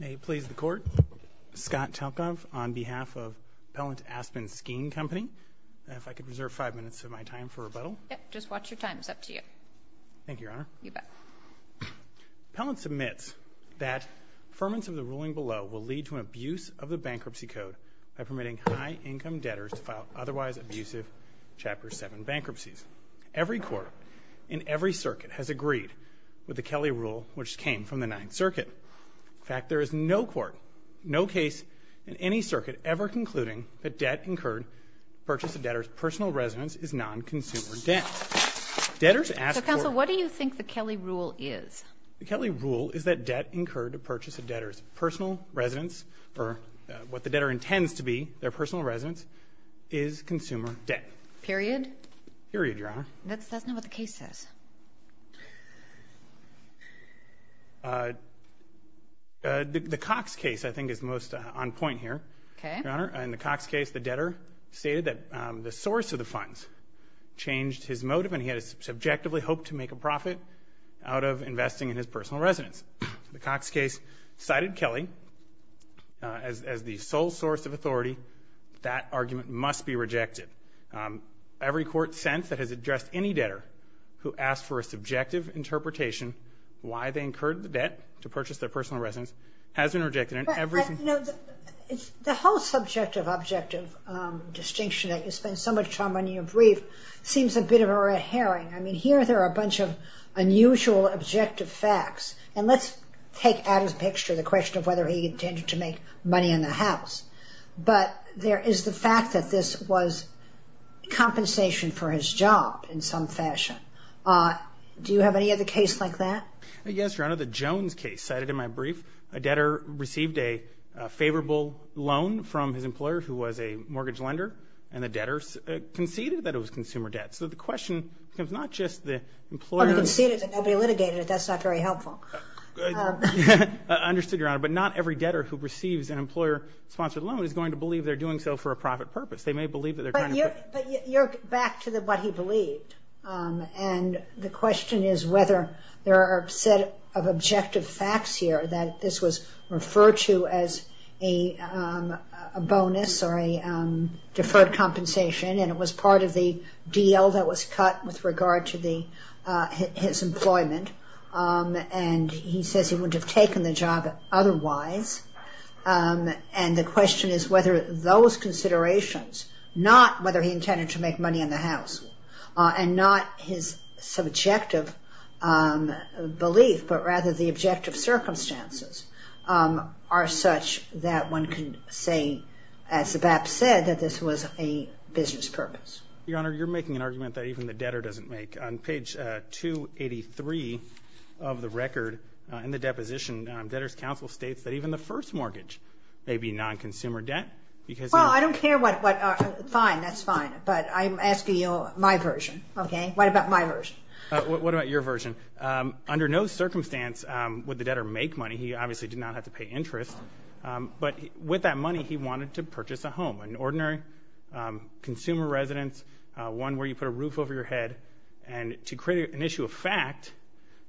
May it please the court, Scott Telkov on behalf of Pellant Aspen Skiing Company if I could reserve five minutes of my time for rebuttal. Just watch your time it's up to you. Thank you your honor. Pellant submits that affirmance of the ruling below will lead to an abuse of the bankruptcy code by permitting high-income debtors to file otherwise abusive chapter 7 bankruptcies. Every court in every circuit has agreed with the Kelly rule which came from the circuit. In fact there is no court no case in any circuit ever concluding that debt incurred purchase a debtor's personal residence is non-consumer debt. Debtors ask. So counsel what do you think the Kelly rule is? The Kelly rule is that debt incurred to purchase a debtor's personal residence or what the debtor intends to be their personal residence is consumer debt. Period? Period your honor. That's not what the case says. The Cox case I think is most on point here. Okay. Your honor in the Cox case the debtor stated that the source of the funds changed his motive and he had a subjectively hoped to make a profit out of investing in his personal residence. The Cox case cited Kelly as the sole source of authority that argument must be rejected. Every court sense that has addressed any debtor who asked for a subjective interpretation why they incurred the debt to purchase their personal residence has been rejected in every case. The whole subjective objective distinction that you spend so much time on your brief seems a bit of a red herring. I mean here there are a bunch of unusual objective facts and let's take Adams picture the question of whether he intended to make money in the house but there is the fact that this was compensation for his job in some fashion. Do you have any other case like that? Yes your honor. The Jones case cited in my brief a debtor received a favorable loan from his employer who was a mortgage lender and the debtors conceded that it was consumer debt. So the question is not just the employer conceded that nobody litigated it. That's not very helpful. I understood your honor but not every debtor who receives an employer sponsored loan is going to believe they're doing so for a profit purpose. They may believe that they're trying to put. But you're back to the what he believed and the question is whether there are a set of objective facts here that this was referred to as a bonus or a deferred compensation and it was part of the deal that was cut with regard to the his employment and he says he those considerations not whether he intended to make money in the house and not his subjective belief but rather the objective circumstances are such that one can say as Zabap said that this was a business purpose. Your honor you're making an argument that even the debtor doesn't make. On page 283 of the record in the deposition debtors counsel states that even the first mortgage may be non Well I don't care what, fine that's fine but I'm asking you my version. What about my version? What about your version? Under no circumstance would the debtor make money. He obviously did not have to pay interest but with that money he wanted to purchase a home. An ordinary consumer residence one where you put a roof over your head and to create an issue of fact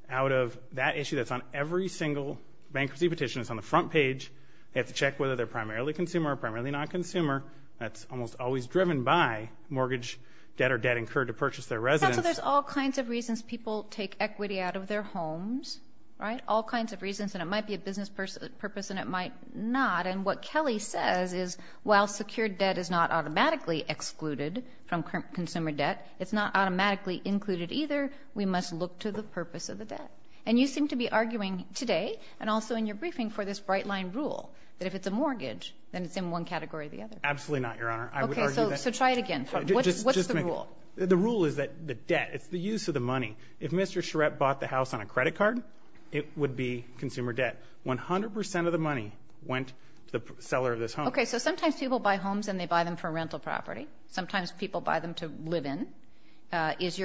out of that issue that's on every single bankruptcy petition is on the front page. You have to check whether they're primarily consumer or primarily non-consumer. That's almost always driven by mortgage debt or debt incurred to purchase their residence. So there's all kinds of reasons people take equity out of their homes, right? All kinds of reasons and it might be a business person purpose and it might not and what Kelly says is while secured debt is not automatically excluded from consumer debt it's not automatically included either we must look to the purpose of the debt and you seem to be arguing today and also in your briefing for this bright line rule that if it's a consumer debt then it's in one category or the other. Absolutely not, Your Honor. So try it again. What's the rule? The rule is that the debt, it's the use of the money. If Mr. Charette bought the house on a credit card it would be consumer debt. 100% of the money went to the seller of this home. Okay so sometimes people buy homes and they buy them for rental property. Sometimes people buy them to live in. Is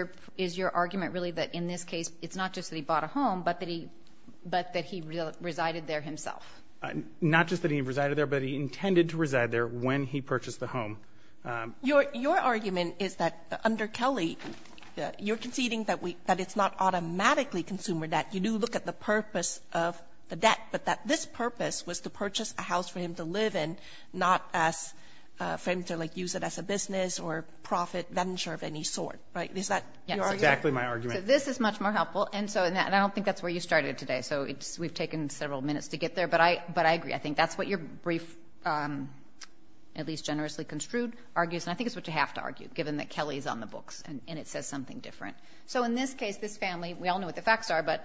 your argument really that in this case it's not just that he bought a home but that he resided there himself? Not just that he resided there but he intended to reside there when he purchased the home. Your argument is that under Kelly you're conceding that it's not automatically consumer debt. You do look at the purpose of the debt but that this purpose was to purchase a house for him to live in not as for him to use it as a business or profit venture of any sort, right? Is that your argument? So this is much more helpful and I don't think that's where you started today so we've taken several minutes to get there but I agree. I think that's what your brief, at least generously construed, argues and I think it's what you have to argue given that Kelly's on the books and it says something different. So in this case, this family, we all know what the facts are but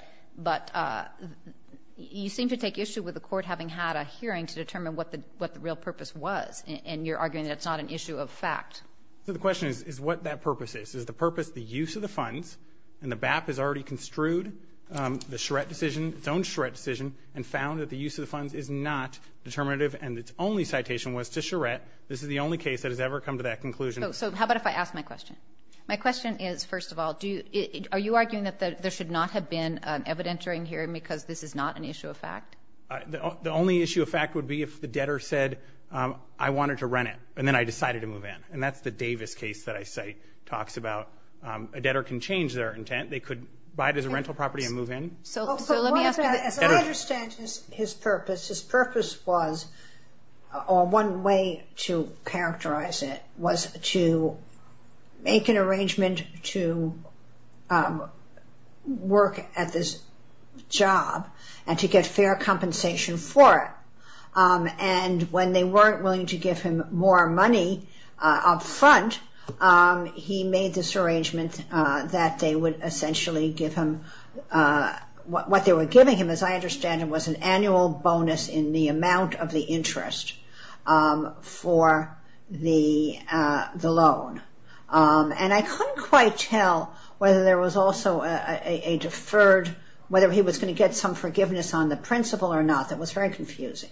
you seem to take issue with the court having had a hearing to determine what the real purpose was and you're arguing that it's not an issue of fact. So the question is what that purpose is. Is the purpose the use of the funds and the BAP has already construed the Charette decision, its own Charette decision, and found that the use of the funds is not determinative and its only citation was to Charette. This is the only case that has ever come to that conclusion. So how about if I ask my question? My question is, first of all, are you arguing that there should not have been evident during hearing because this is not an issue of fact? The only issue of fact would be if the debtor said I wanted to rent it and then I decided to move in and that's the Davis case that I cite talks about. A debtor can change their intent. They could buy it as a rental property and move in. As I understand his purpose, his purpose was, or one way to characterize it, was to make an arrangement to work at this job and to get fair compensation for it. And when they weren't willing to give him more money up front, he made this arrangement that they would essentially give him, what they were giving him as I understand it was an annual bonus in the amount of the interest for the loan. And I couldn't quite tell whether there was also a deferred, whether he was going to get some forgiveness on the principal or not. That was very confusing.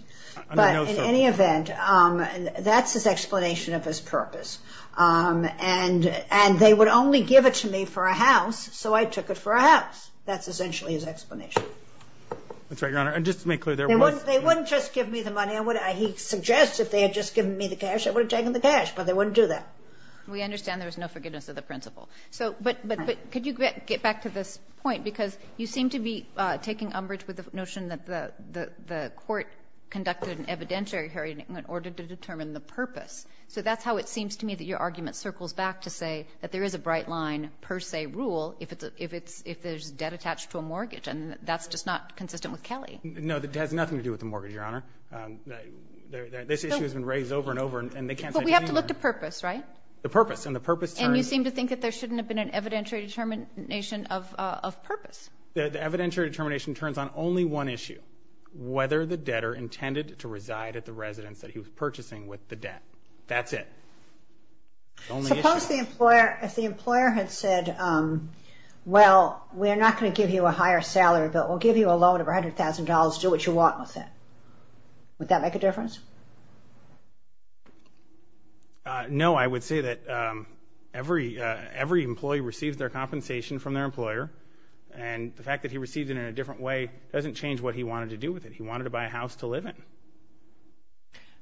But in any event, that's his explanation of his purpose. And they would only give it to me for a house, so I took it for a house. That's essentially his explanation. That's right, Your Honor. And just to make clear, there was no forgiveness. They wouldn't just give me the money. He suggests if they had just given me the cash, I would have taken the cash, but they wouldn't do that. We understand there was no forgiveness of the principal. But could you get back to this point? Because you seem to be taking umbrage with the notion that the court conducted an evidentiary hearing in order to determine the purpose. So that's how it seems to me that your argument circles back to say that there is a bright rule if there's debt attached to a mortgage, and that's just not consistent with Kelly. No, it has nothing to do with the mortgage, Your Honor. This issue has been raised over and over, and they can't say any more. But we have to look to purpose, right? The purpose, and the purpose turns And you seem to think that there shouldn't have been an evidentiary determination of purpose. The evidentiary determination turns on only one issue, whether the debtor intended to reside at the residence that he was purchasing with the debt. That's it. Suppose the employer had said, well, we're not going to give you a higher salary, but we'll give you a loan of $100,000, do what you want with it. Would that make a difference? No, I would say that every employee receives their compensation from their employer, and the fact that he received it in a different way doesn't change what he wanted to do with it. He wanted to buy a house to live in.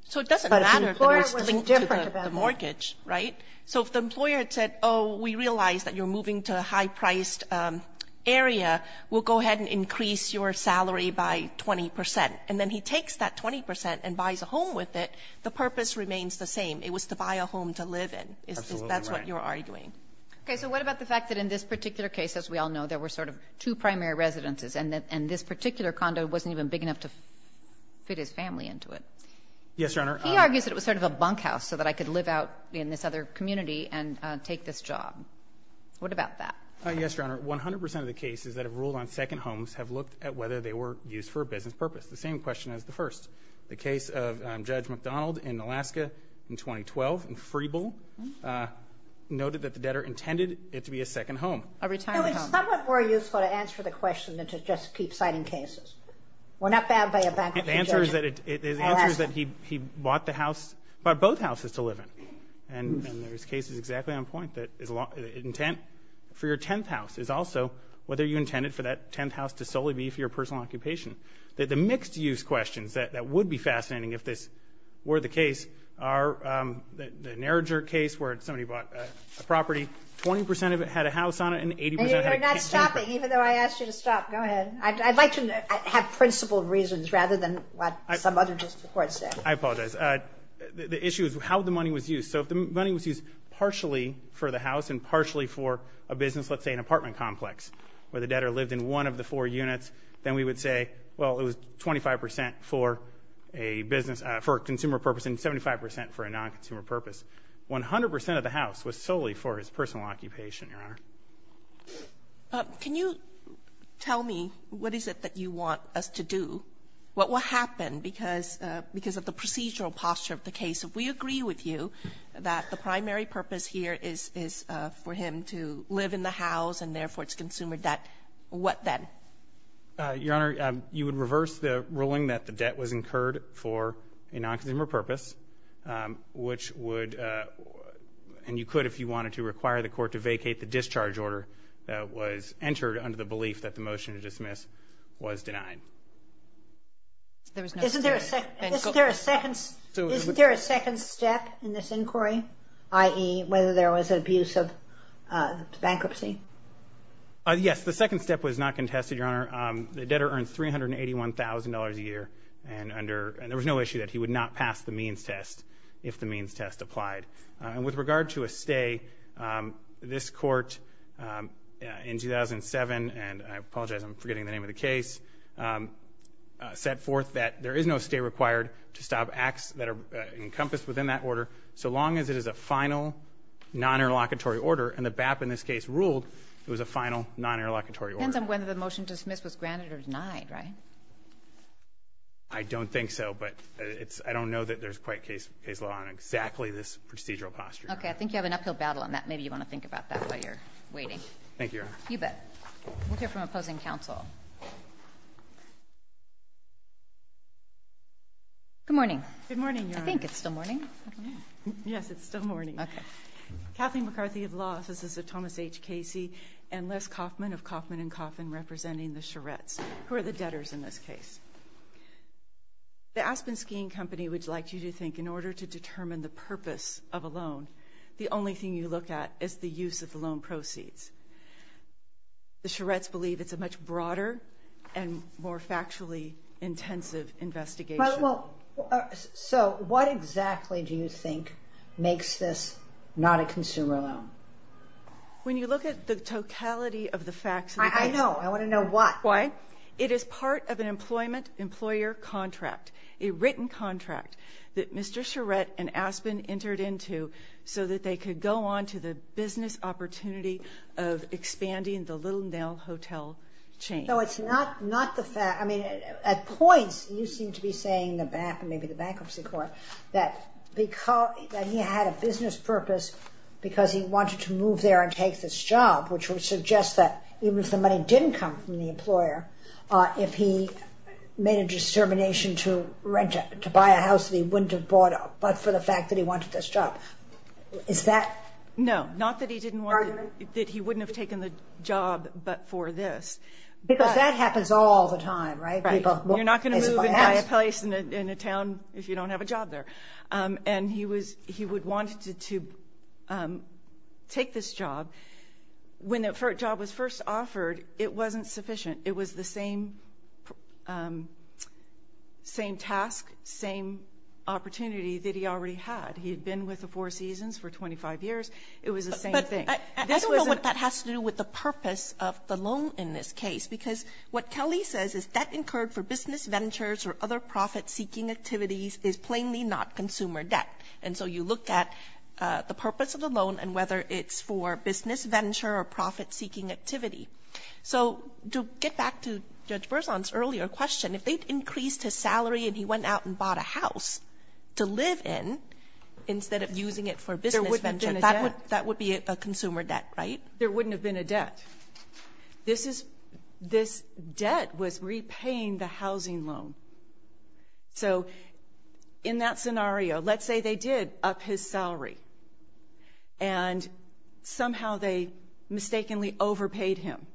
So it doesn't matter that we're still linked to the mortgage, right? So if the employer had said, oh, we realize that you're moving to a high-priced area, we'll go ahead and increase your salary by 20 percent, and then he takes that 20 percent and buys a home with it, the purpose remains the same. It was to buy a home to live in. Absolutely right. That's what you're arguing. Okay. So what about the fact that in this particular case, as we all know, there were sort of two primary residences, and this particular condo wasn't even big enough to fit his family into it. Yes, Your Honor. He argues that it was sort of a bunkhouse so that I could live out in this other community and take this job. What about that? Yes, Your Honor. One hundred percent of the cases that have ruled on second homes have looked at whether they were used for a business purpose, the same question as the first. The case of Judge McDonald in Alaska in 2012 in Free Bull noted that the debtor intended it to be a second home. A retirement home. It was somewhat more useful to answer the question than to just keep citing cases. Well, not bad by a bank in Georgia. The answer is that he bought both houses to live in. And his case is exactly on point. The intent for your 10th house is also whether you intended for that 10th house to solely be for your personal occupation. The mixed-use questions that would be fascinating if this were the case are the Narrager case where somebody bought a property, 20 percent of it had a house on it and 80 percent had a kitchen. You're not stopping, even though I asked you to stop. Go ahead. I'd like to have principled reasons rather than what some other district court said. I apologize. The issue is how the money was used. So if the money was used partially for the house and partially for a business, let's say an apartment complex where the debtor lived in one of the four units, then we would say, well, it was 25 percent for a business, for a consumer purpose, and 75 percent for a non-consumer purpose. One hundred percent of the house was solely for his personal occupation, Your Honor. Can you tell me what is it that you want us to do? What will happen? Because of the procedural posture of the case, if we agree with you that the primary purpose here is for him to live in the house and, therefore, it's consumer debt, what then? Your Honor, you would reverse the ruling that the debt was incurred for a non-consumer purpose, which would, and you could if you wanted to, require the court to vacate the discharge order that was entered under the belief that the motion to dismiss was denied. Isn't there a second step in this inquiry, i.e., whether there was an abuse of bankruptcy? Yes, the second step was not contested, Your Honor. The debtor earned $381,000 a year, and there was no issue that he would not pass the means test if the means test applied. And with regard to a stay, this court in 2007, and I apologize, I'm forgetting the name of the case, set forth that there is no stay required to stop acts that are encompassed within that order so long as it is a final non-interlocutory order. And the BAP in this case ruled it was a final non-interlocutory order. It depends on whether the motion to dismiss was granted or denied, right? I don't think so, but I don't know that there's quite case law on exactly this procedural posture. Okay. I think you have an uphill battle on that. Maybe you want to think about that while you're waiting. Thank you, Your Honor. You bet. We'll hear from opposing counsel. Good morning. Good morning, Your Honor. I think it's still morning. Yes, it's still morning. Okay. Kathleen McCarthy of Laws, this is a Thomas H. Casey and Les Kaufman of Kaufman & Kaufman representing the Charettes, who are the debtors in this case. The Aspen Skiing Company would like you to think in order to determine the purpose of a loan, the only thing you look at is the use of the loan proceeds. The Charettes believe it's a much broader and more factually intensive investigation. So what exactly do you think makes this not a consumer loan? When you look at the totality of the facts of the case. I know. I want to know why. Why? It is part of an employment employer contract, a written contract, that Mr. Charette and Aspen entered into so that they could go on to the business opportunity of expanding the Little Nell Hotel chain. No, it's not the fact. I mean, at points you seem to be saying, maybe the bankruptcy court, that he had a business purpose because he wanted to move there and take this job, which would suggest that even if the money didn't come from the employer, if he made a determination to buy a house that he wouldn't have bought, but for the fact that he wanted this job. Is that argument? No, not that he wouldn't have taken the job, but for this. Because that happens all the time, right? You're not going to move and buy a place in a town if you don't have a job there. And he would want to take this job. When the job was first offered, it wasn't sufficient. It was the same task, same opportunity that he already had. He had been with the Four Seasons for 25 years. It was the same thing. I don't know what that has to do with the purpose of the loan in this case, because what Kelly says is debt incurred for business ventures or other profit-seeking activities is plainly not consumer debt. And so you look at the purpose of the loan and whether it's for business venture or profit-seeking activity. So to get back to Judge Berzon's earlier question, if they'd increased his salary and he went out and bought a house to live in instead of using it for business venture, that would be a consumer debt, right? There wouldn't have been a debt. This debt was repaying the housing loan. So in that scenario, let's say they did up his salary and somehow they mistakenly overpaid him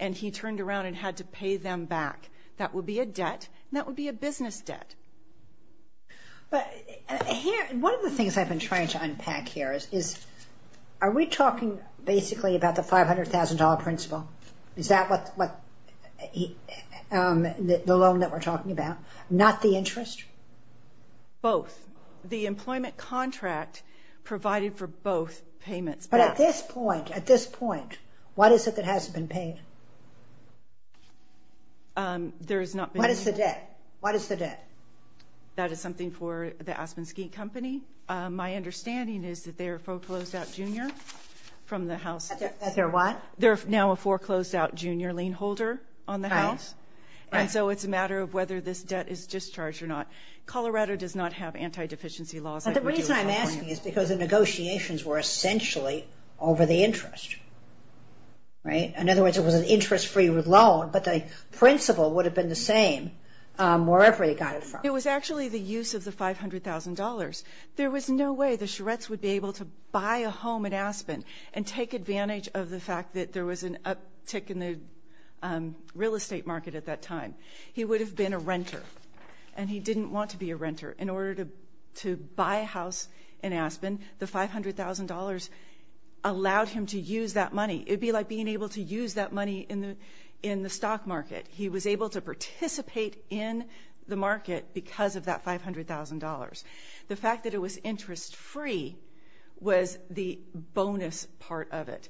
and he turned around and had to pay them back. That would be a debt and that would be a business debt. One of the things I've been trying to unpack here is are we talking basically about the $500,000 principle? Is that what the loan that we're talking about? Not the interest? Both. The employment contract provided for both payments. But at this point, at this point, what is it that hasn't been paid? There has not been. What is the debt? What is the debt? That is something for the Aspensky Company. My understanding is that they're a foreclosed out junior from the house. That they're what? They're now a foreclosed out junior lien holder on the house. Right. And so it's a matter of whether this debt is discharged or not. Colorado does not have anti-deficiency laws. The reason I'm asking is because the negotiations were essentially over the interest, right? In other words, it was an interest-free loan but the principle would have been the same wherever they got it from. It was actually the use of the $500,000. There was no way the Sharettes would be able to buy a home in Aspen and take advantage of the fact that there was an uptick in the real estate market at that time. He would have been a renter and he didn't want to be a renter. In order to buy a house in Aspen, the $500,000 allowed him to use that money. It would be like being able to use that money in the stock market. He was able to participate in the market because of that $500,000. The fact that it was interest-free was the bonus part of it,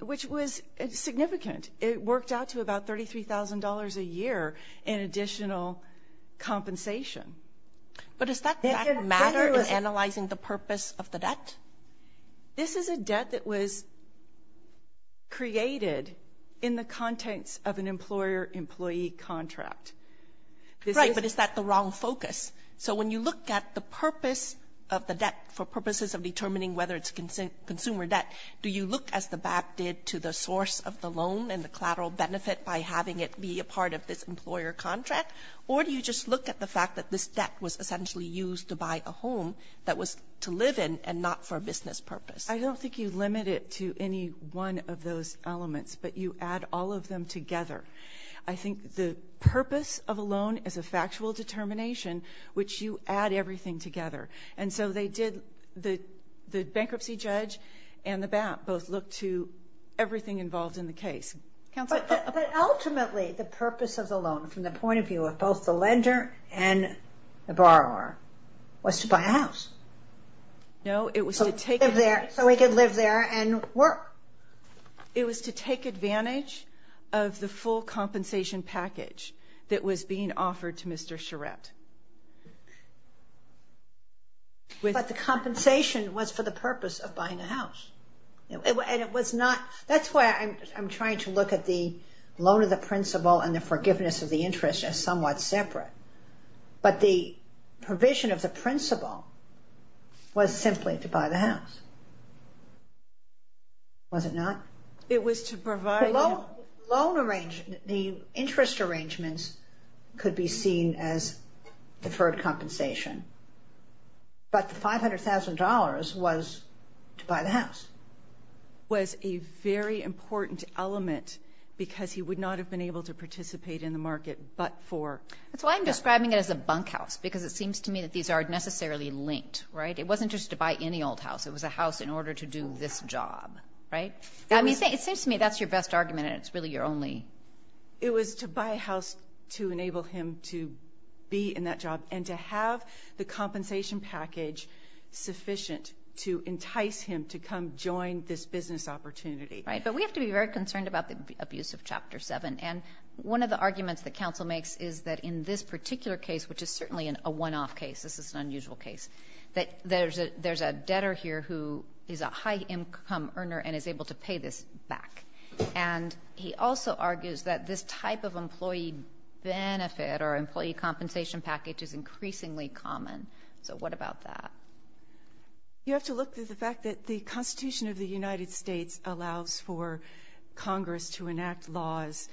which was significant. It worked out to about $33,000 a year in additional compensation. But does that matter in analyzing the purpose of the debt? This is a debt that was created in the context of an employer-employee contract. Right, but is that the wrong focus? So when you look at the purpose of the debt for purposes of determining whether it's consumer debt, do you look as the BAP did to the source of the loan and the collateral benefit by having it be a part of this employer contract, or do you just look at the fact that this debt was essentially used to buy a home that was to live in and not for a business purpose? I don't think you limit it to any one of those elements, but you add all of them together. I think the purpose of a loan is a factual determination, which you add everything together. And so the bankruptcy judge and the BAP both look to everything involved in the case. But ultimately, the purpose of the loan from the point of view of both the lender and the borrower was to buy a house. So we could live there and work. It was to take advantage of the full compensation package that was being offered to Mr. Charette. But the compensation was for the purpose of buying a house. That's why I'm trying to look at the loan of the principal and the forgiveness of the interest as somewhat separate. But the provision of the principal was simply to buy the house, was it not? It was to provide. The interest arrangements could be seen as deferred compensation, but the $500,000 was to buy the house. It was a very important element because he would not have been able to participate in the market but for. That's why I'm describing it as a bunkhouse, because it seems to me that these are necessarily linked, right? It wasn't just to buy any old house. It was a house in order to do this job, right? It seems to me that's your best argument and it's really your only. It was to buy a house to enable him to be in that job and to have the compensation package sufficient to entice him to come join this business opportunity. Right, but we have to be very concerned about the abuse of Chapter 7. And one of the arguments that counsel makes is that in this particular case, which is certainly a one-off case, this is an unusual case, that there's a debtor here who is a high-income earner and is able to pay this back. And he also argues that this type of employee benefit or employee compensation package is increasingly common. So what about that? You have to look to the fact that the Constitution of the United States allows for Congress to enact laws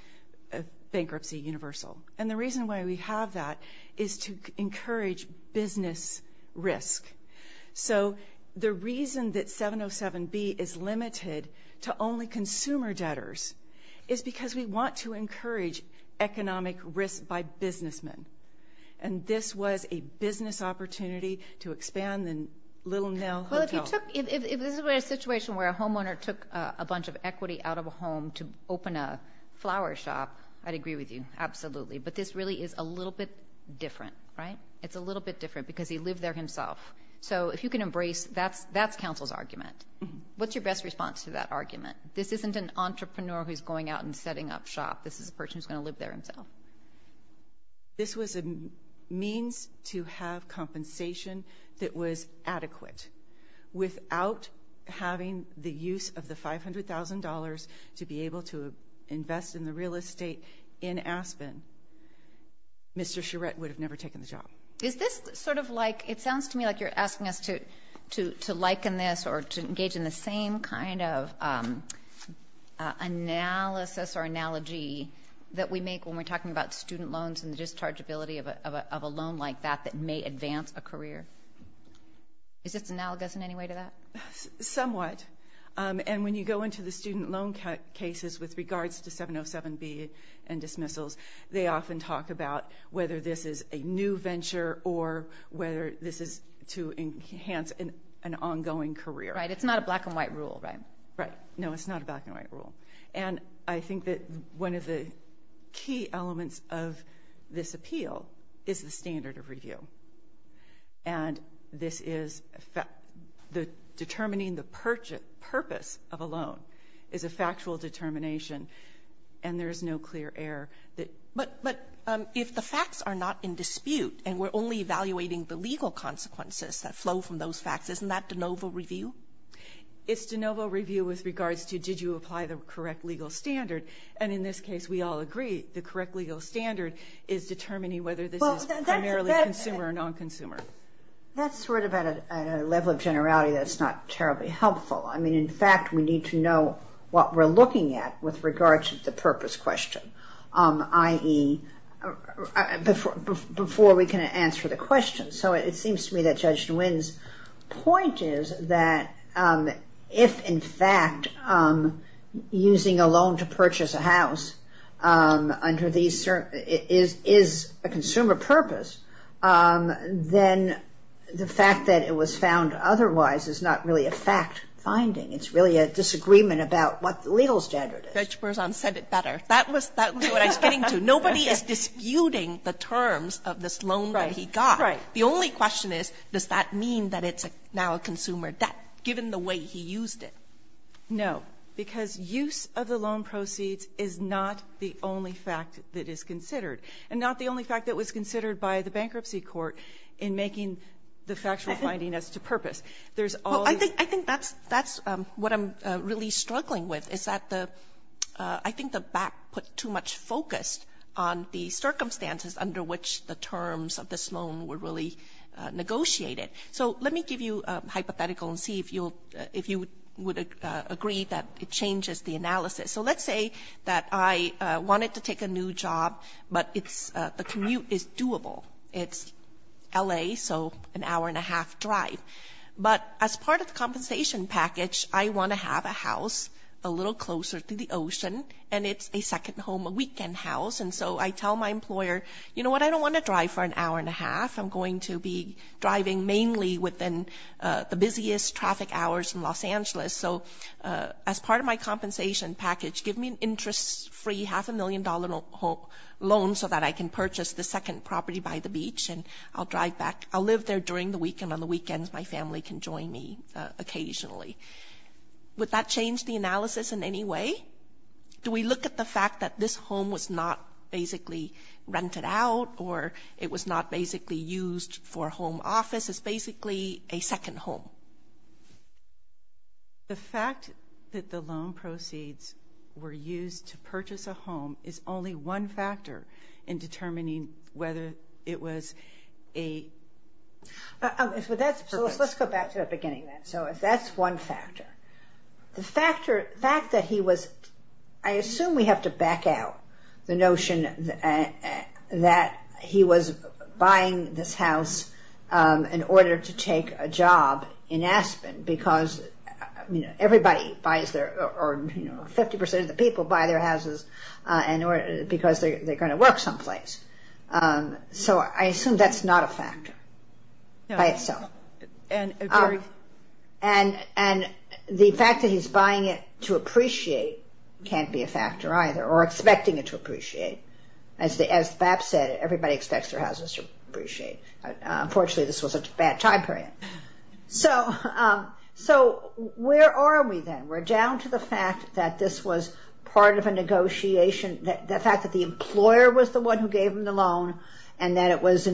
of bankruptcy universal. And the reason why we have that is to encourage business risk. So the reason that 707B is limited to only consumer debtors is because we want to encourage economic risk by businessmen. And this was a business opportunity to expand the Little Nell Hotel. Well, if this were a situation where a homeowner took a bunch of equity out of a home to open a flower shop, I'd agree with you, absolutely. But this really is a little bit different, right? It's a little bit different because he lived there himself. So if you can embrace that, that's counsel's argument. What's your best response to that argument? This isn't an entrepreneur who's going out and setting up shop. This is a person who's going to live there himself. This was a means to have compensation that was adequate. Without having the use of the $500,000 to be able to invest in the real estate in Aspen, Mr. Charette would have never taken the job. Is this sort of like, it sounds to me like you're asking us to liken this or to engage in the same kind of analysis or analogy that we make when we're talking about student loans and the dischargeability of a loan like that that may advance a career? Is this analogous in any way to that? Somewhat. And when you go into the student loan cases with regards to 707B and dismissals, they often talk about whether this is a new venture or whether this is to enhance an ongoing career. Right. It's not a black-and-white rule, right? Right. No, it's not a black-and-white rule. And I think that one of the key elements of this appeal is the standard of review. And this is determining the purpose of a loan is a factual determination, and there is no clear error. But if the facts are not in dispute and we're only evaluating the legal consequences that flow from those facts, isn't that de novo review? It's de novo review with regards to did you apply the correct legal standard. And in this case, we all agree the correct legal standard is determining whether this is primarily consumer or non-consumer. That's sort of at a level of generality that's not terribly helpful. I mean, in fact, we need to know what we're looking at with regards to the purpose question, i.e., before we can answer the question. So it seems to me that Judge Nguyen's point is that if, in fact, using a loan to purchase a house is a consumer purpose, then the fact that it was found otherwise is not really a fact-finding. It's really a disagreement about what the legal standard is. Judge Berzon said it better. That was what I was getting to. Nobody is disputing the terms of this loan that he got. Right. The only question is, does that mean that it's now a consumer debt, given the way he used it? No, because use of the loan proceeds is not the only fact that is considered and not the only fact that was considered by the bankruptcy court in making the factual finding as to purpose. I think that's what I'm really struggling with, is that I think the back put too much focus on the circumstances under which the terms of this loan were really negotiated. So let me give you a hypothetical and see if you would agree that it changes the analysis. So let's say that I wanted to take a new job, but the commute is doable. It's L.A., so an hour and a half drive. But as part of the compensation package, I want to have a house a little closer to the ocean, and it's a second home, a weekend house. And so I tell my employer, you know what, I don't want to drive for an hour and a half. I'm going to be driving mainly within the busiest traffic hours in Los Angeles. So as part of my compensation package, give me an interest-free half a million dollar loan so that I can purchase the second property by the beach, and I'll drive back. I'll live there during the week, and on the weekends my family can join me occasionally. Would that change the analysis in any way? Do we look at the fact that this home was not basically rented out or it was not basically used for a home office? It's basically a second home. The fact that the loan proceeds were used to purchase a home is only one factor in determining whether it was a... So let's go back to the beginning of that. So that's one factor. The fact that he was... I assume we have to back out the notion that he was buying this house in order to take a job in Aspen because everybody buys their... or 50% of the people buy their houses because they're going to work someplace. So I assume that's not a factor by itself. And the fact that he's buying it to appreciate can't be a factor either or expecting it to appreciate. As BAP said, everybody expects their houses to appreciate. Unfortunately, this was a bad time period. So where are we then? We're down to the fact that this was part of a negotiation, and that it was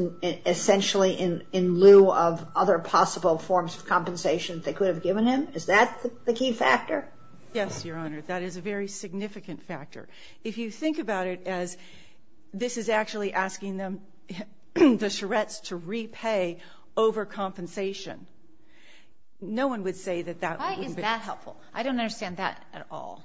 essentially in lieu of other possible forms of compensation they could have given him. Is that the key factor? Yes, Your Honor. That is a very significant factor. If you think about it as this is actually asking them, the Charrettes, to repay over compensation, no one would say that that wouldn't be helpful. Why is that? I don't understand that at all.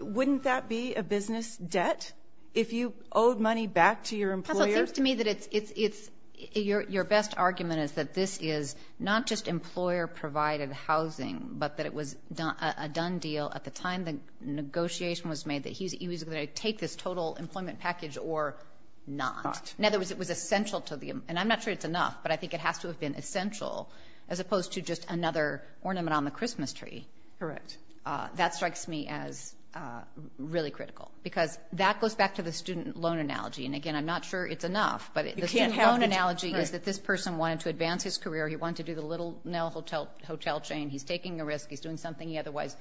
Wouldn't that be a business debt? If you owed money back to your employer? Counsel, it seems to me that your best argument is that this is not just employer-provided housing but that it was a done deal at the time the negotiation was made that he was going to take this total employment package or not. In other words, it was essential to the employer. And I'm not sure it's enough, but I think it has to have been essential as opposed to just another ornament on the Christmas tree. Correct. That strikes me as really critical because that goes back to the student loan analogy. And, again, I'm not sure it's enough. But the student loan analogy is that this person wanted to advance his career. He wanted to do the little hotel chain. He's taking a risk. He's doing something he otherwise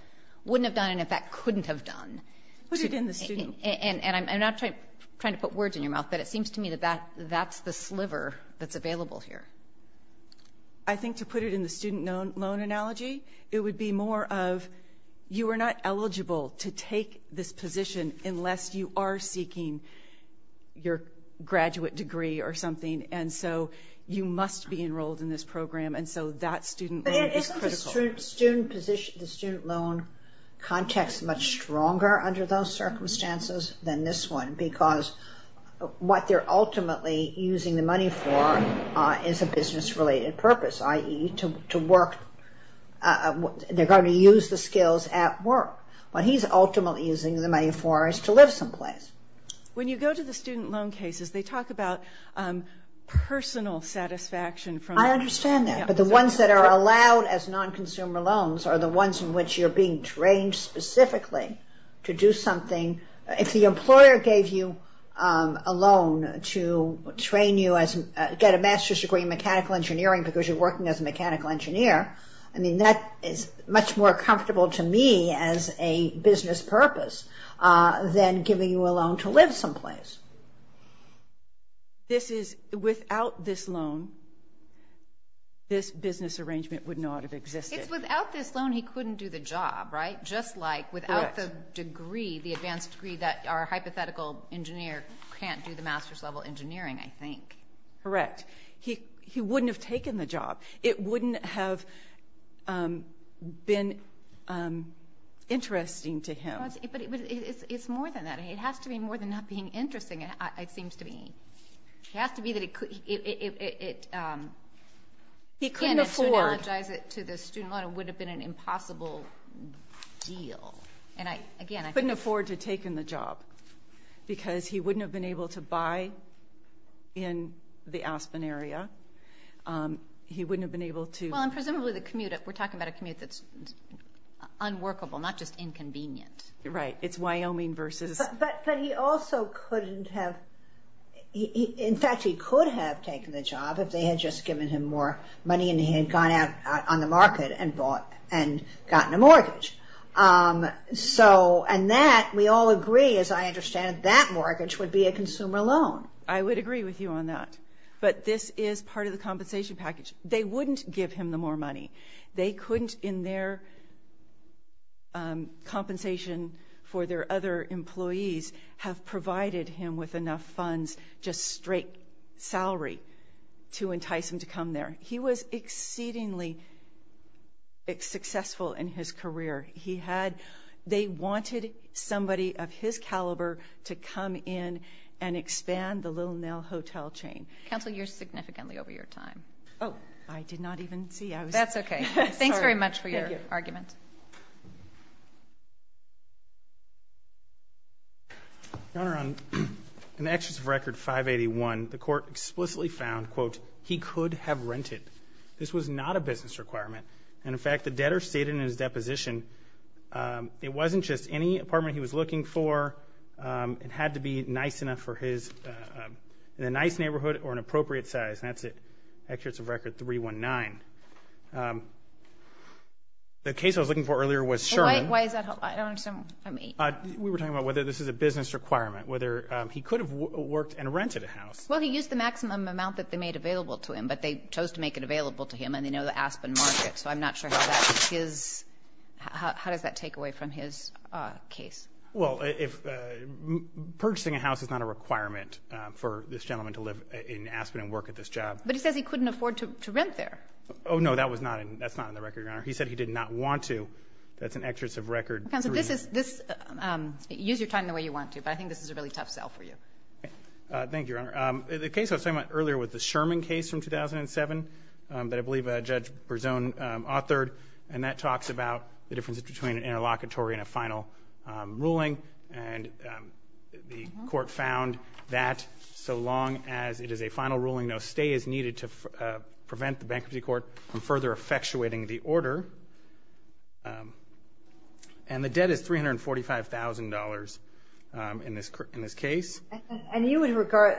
wouldn't have done and, in fact, couldn't have done. Put it in the student. And I'm not trying to put words in your mouth, but it seems to me that that's the sliver that's available here. I think to put it in the student loan analogy, it would be more of you are not eligible to take this position unless you are seeking your graduate degree or something. And so you must be enrolled in this program. And so that student loan is critical. But isn't the student loan context much stronger under those circumstances than this one because what they're ultimately using the money for is a business-related purpose, i.e., they're going to use the skills at work. What he's ultimately using the money for is to live someplace. When you go to the student loan cases, they talk about personal satisfaction. I understand that. But the ones that are allowed as non-consumer loans are the ones in which you're being trained specifically to do something. If the employer gave you a loan to train you, get a master's degree in mechanical engineering because you're working as a mechanical engineer, that is much more comfortable to me as a business purpose than giving you a loan to live someplace. Without this loan, this business arrangement would not have existed. Without this loan, he couldn't do the job, right? Just like without the degree, the advanced degree, that our hypothetical engineer can't do the master's level engineering, I think. Correct. He wouldn't have taken the job. It wouldn't have been interesting to him. But it's more than that. It has to be more than not being interesting, it seems to me. It has to be that it couldn't. He couldn't afford. To analogize it to the student loan, it would have been an impossible deal. He couldn't afford to have taken the job because he wouldn't have been able to buy in the Aspen area. He wouldn't have been able to... Presumably, we're talking about a commute that's unworkable, not just inconvenient. Right. It's Wyoming versus... But he also couldn't have... In fact, he could have taken the job if they had just given him more money and he had gone out on the market and gotten a mortgage. And that, we all agree, as I understand it, that mortgage would be a consumer loan. I would agree with you on that. But this is part of the compensation package. They wouldn't give him the more money. They couldn't, in their compensation for their other employees, have provided him with enough funds, just straight salary, to entice him to come there. He was exceedingly successful in his career. They wanted somebody of his caliber to come in and expand the Little Nell Hotel chain. Counsel, you're significantly over your time. Oh, I did not even see I was... That's okay. Thanks very much for your argument. Your Honor, in the actions of Record 581, the court explicitly found, quote, he could have rented. This was not a business requirement. And, in fact, the debtor stated in his deposition, it wasn't just any apartment he was looking for. It had to be nice enough for his, in a nice neighborhood or an appropriate size. And that's it. Actuates of Record 319. The case I was looking for earlier was Sherman. Why is that? I don't understand what you mean. We were talking about whether this is a business requirement, whether he could have worked and rented a house. Well, he used the maximum amount that they made available to him, but they chose to make it available to him and they know the Aspen market, so I'm not sure how that is his, how does that take away from his case? Well, purchasing a house is not a requirement for this gentleman to live in Aspen and work at this job. But he says he couldn't afford to rent there. Oh, no, that's not in the record, Your Honor. He said he did not want to. That's in Actuates of Record 319. Counsel, use your time the way you want to, but I think this is a really tough sell for you. Thank you, Your Honor. The case I was talking about earlier was the Sherman case from 2007 that I believe Judge Berzon authored, and that talks about the difference between an interlocutory and a final ruling. And the court found that so long as it is a final ruling, no stay is needed to prevent the bankruptcy court from further effectuating the order. And the debt is $345,000 in this case. And you would regard,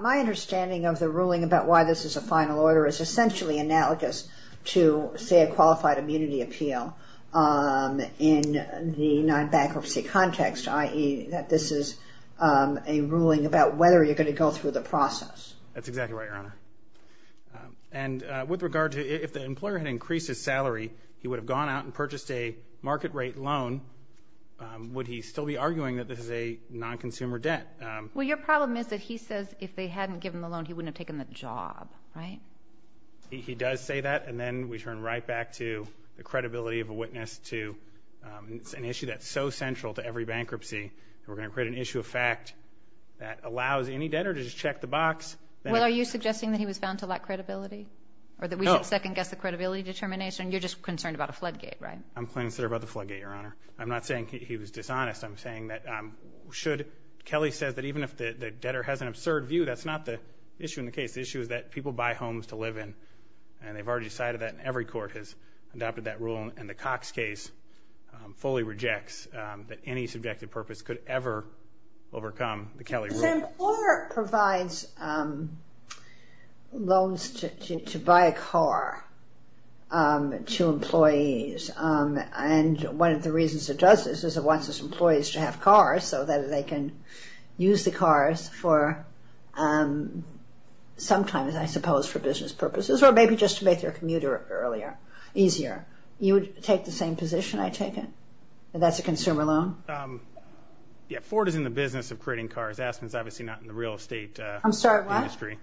my understanding of the ruling about why this is a final order is essentially analogous to, say, a qualified immunity appeal in the non-bankruptcy context, i.e., that this is a ruling about whether you're going to go through the process. That's exactly right, Your Honor. And with regard to if the employer had increased his salary, he would have gone out and purchased a market rate loan, would he still be arguing that this is a non-consumer debt? Well, your problem is that he says if they hadn't given the loan, he wouldn't have taken the job, right? He does say that, and then we turn right back to the credibility of a witness to an issue that's so central to every bankruptcy. We're going to create an issue of fact that allows any debtor to just check the box. Well, are you suggesting that he was found to lack credibility? No. Or that we should second-guess the credibility determination? You're just concerned about a floodgate, right? I'm concerned about the floodgate, Your Honor. I'm not saying he was dishonest. I'm saying that should Kelly says that even if the debtor has an absurd view, that's not the issue in the case. The issue is that people buy homes to live in, and they've already decided that and every court has adopted that rule, and the Cox case fully rejects that any subjective purpose could ever overcome the Kelly rule. Sam, Ford provides loans to buy a car to employees, and one of the reasons it does this is it wants its employees to have cars so that they can use the cars for sometimes, I suppose, for business purposes or maybe just to make their commute earlier, easier. You would take the same position, I take it, that that's a consumer loan? Yeah, Ford is in the business of creating cars. Aspen is obviously not in the real estate industry. I'm sorry, what?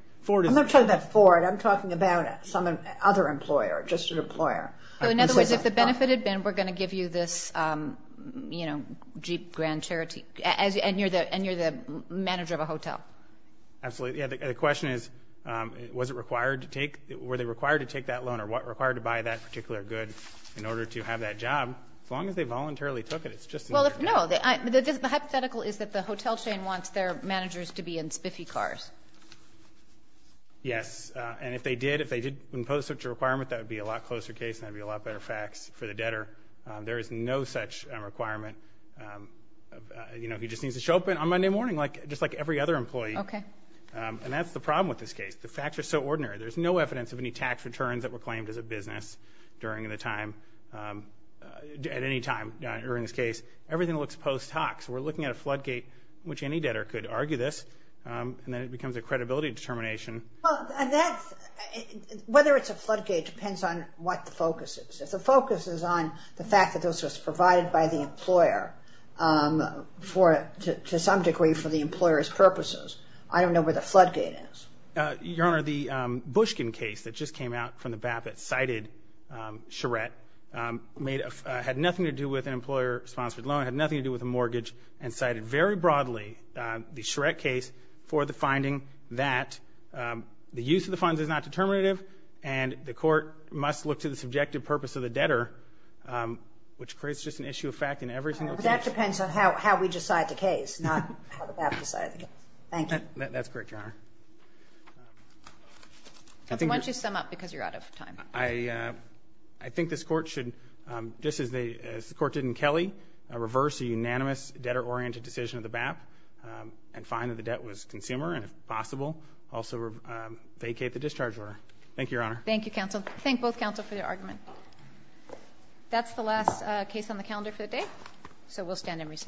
I'm not talking about Ford. I'm talking about some other employer, just an employer. In other words, if the benefit had been we're going to give you this Jeep Grand Charity, and you're the manager of a hotel. Absolutely. Yeah, the question is were they required to take that loan or were they required to buy that particular good in order to have that job? As long as they voluntarily took it, it's just another case. Well, no, the hypothetical is that the hotel chain wants their managers to be in spiffy cars. Yes, and if they did, if they did impose such a requirement, that would be a lot closer case and that would be a lot better facts for the debtor. There is no such requirement. You know, he just needs to show up on Monday morning just like every other employee. Okay. And that's the problem with this case. The facts are so ordinary. There's no evidence of any tax returns that were claimed as a business during the time, at any time during this case. Everything looks post hoc. So we're looking at a floodgate, which any debtor could argue this, and then it becomes a credibility determination. Well, whether it's a floodgate depends on what the focus is. If the focus is on the fact that this was provided by the employer to some degree for the employer's purposes, I don't know where the floodgate is. Your Honor, the Bushkin case that just came out from the BAPT cited Charette, had nothing to do with an employer-sponsored loan, had nothing to do with a mortgage, and cited very broadly the Charette case for the finding that the use of the funds is not determinative and the court must look to the subjective purpose of the debtor, which creates just an issue of fact in every single case. That depends on how we decide the case, not how the BAPT decided the case. Thank you. That's correct, Your Honor. Why don't you sum up, because you're out of time. I think this court should, just as the court did in Kelly, reverse a unanimous debtor-oriented decision of the BAPT and find that the debt was consumer, and if possible, also vacate the discharge order. Thank you, Your Honor. Thank you, counsel. Thank both counsel for your argument. That's the last case on the calendar for the day, so we'll stand and recess.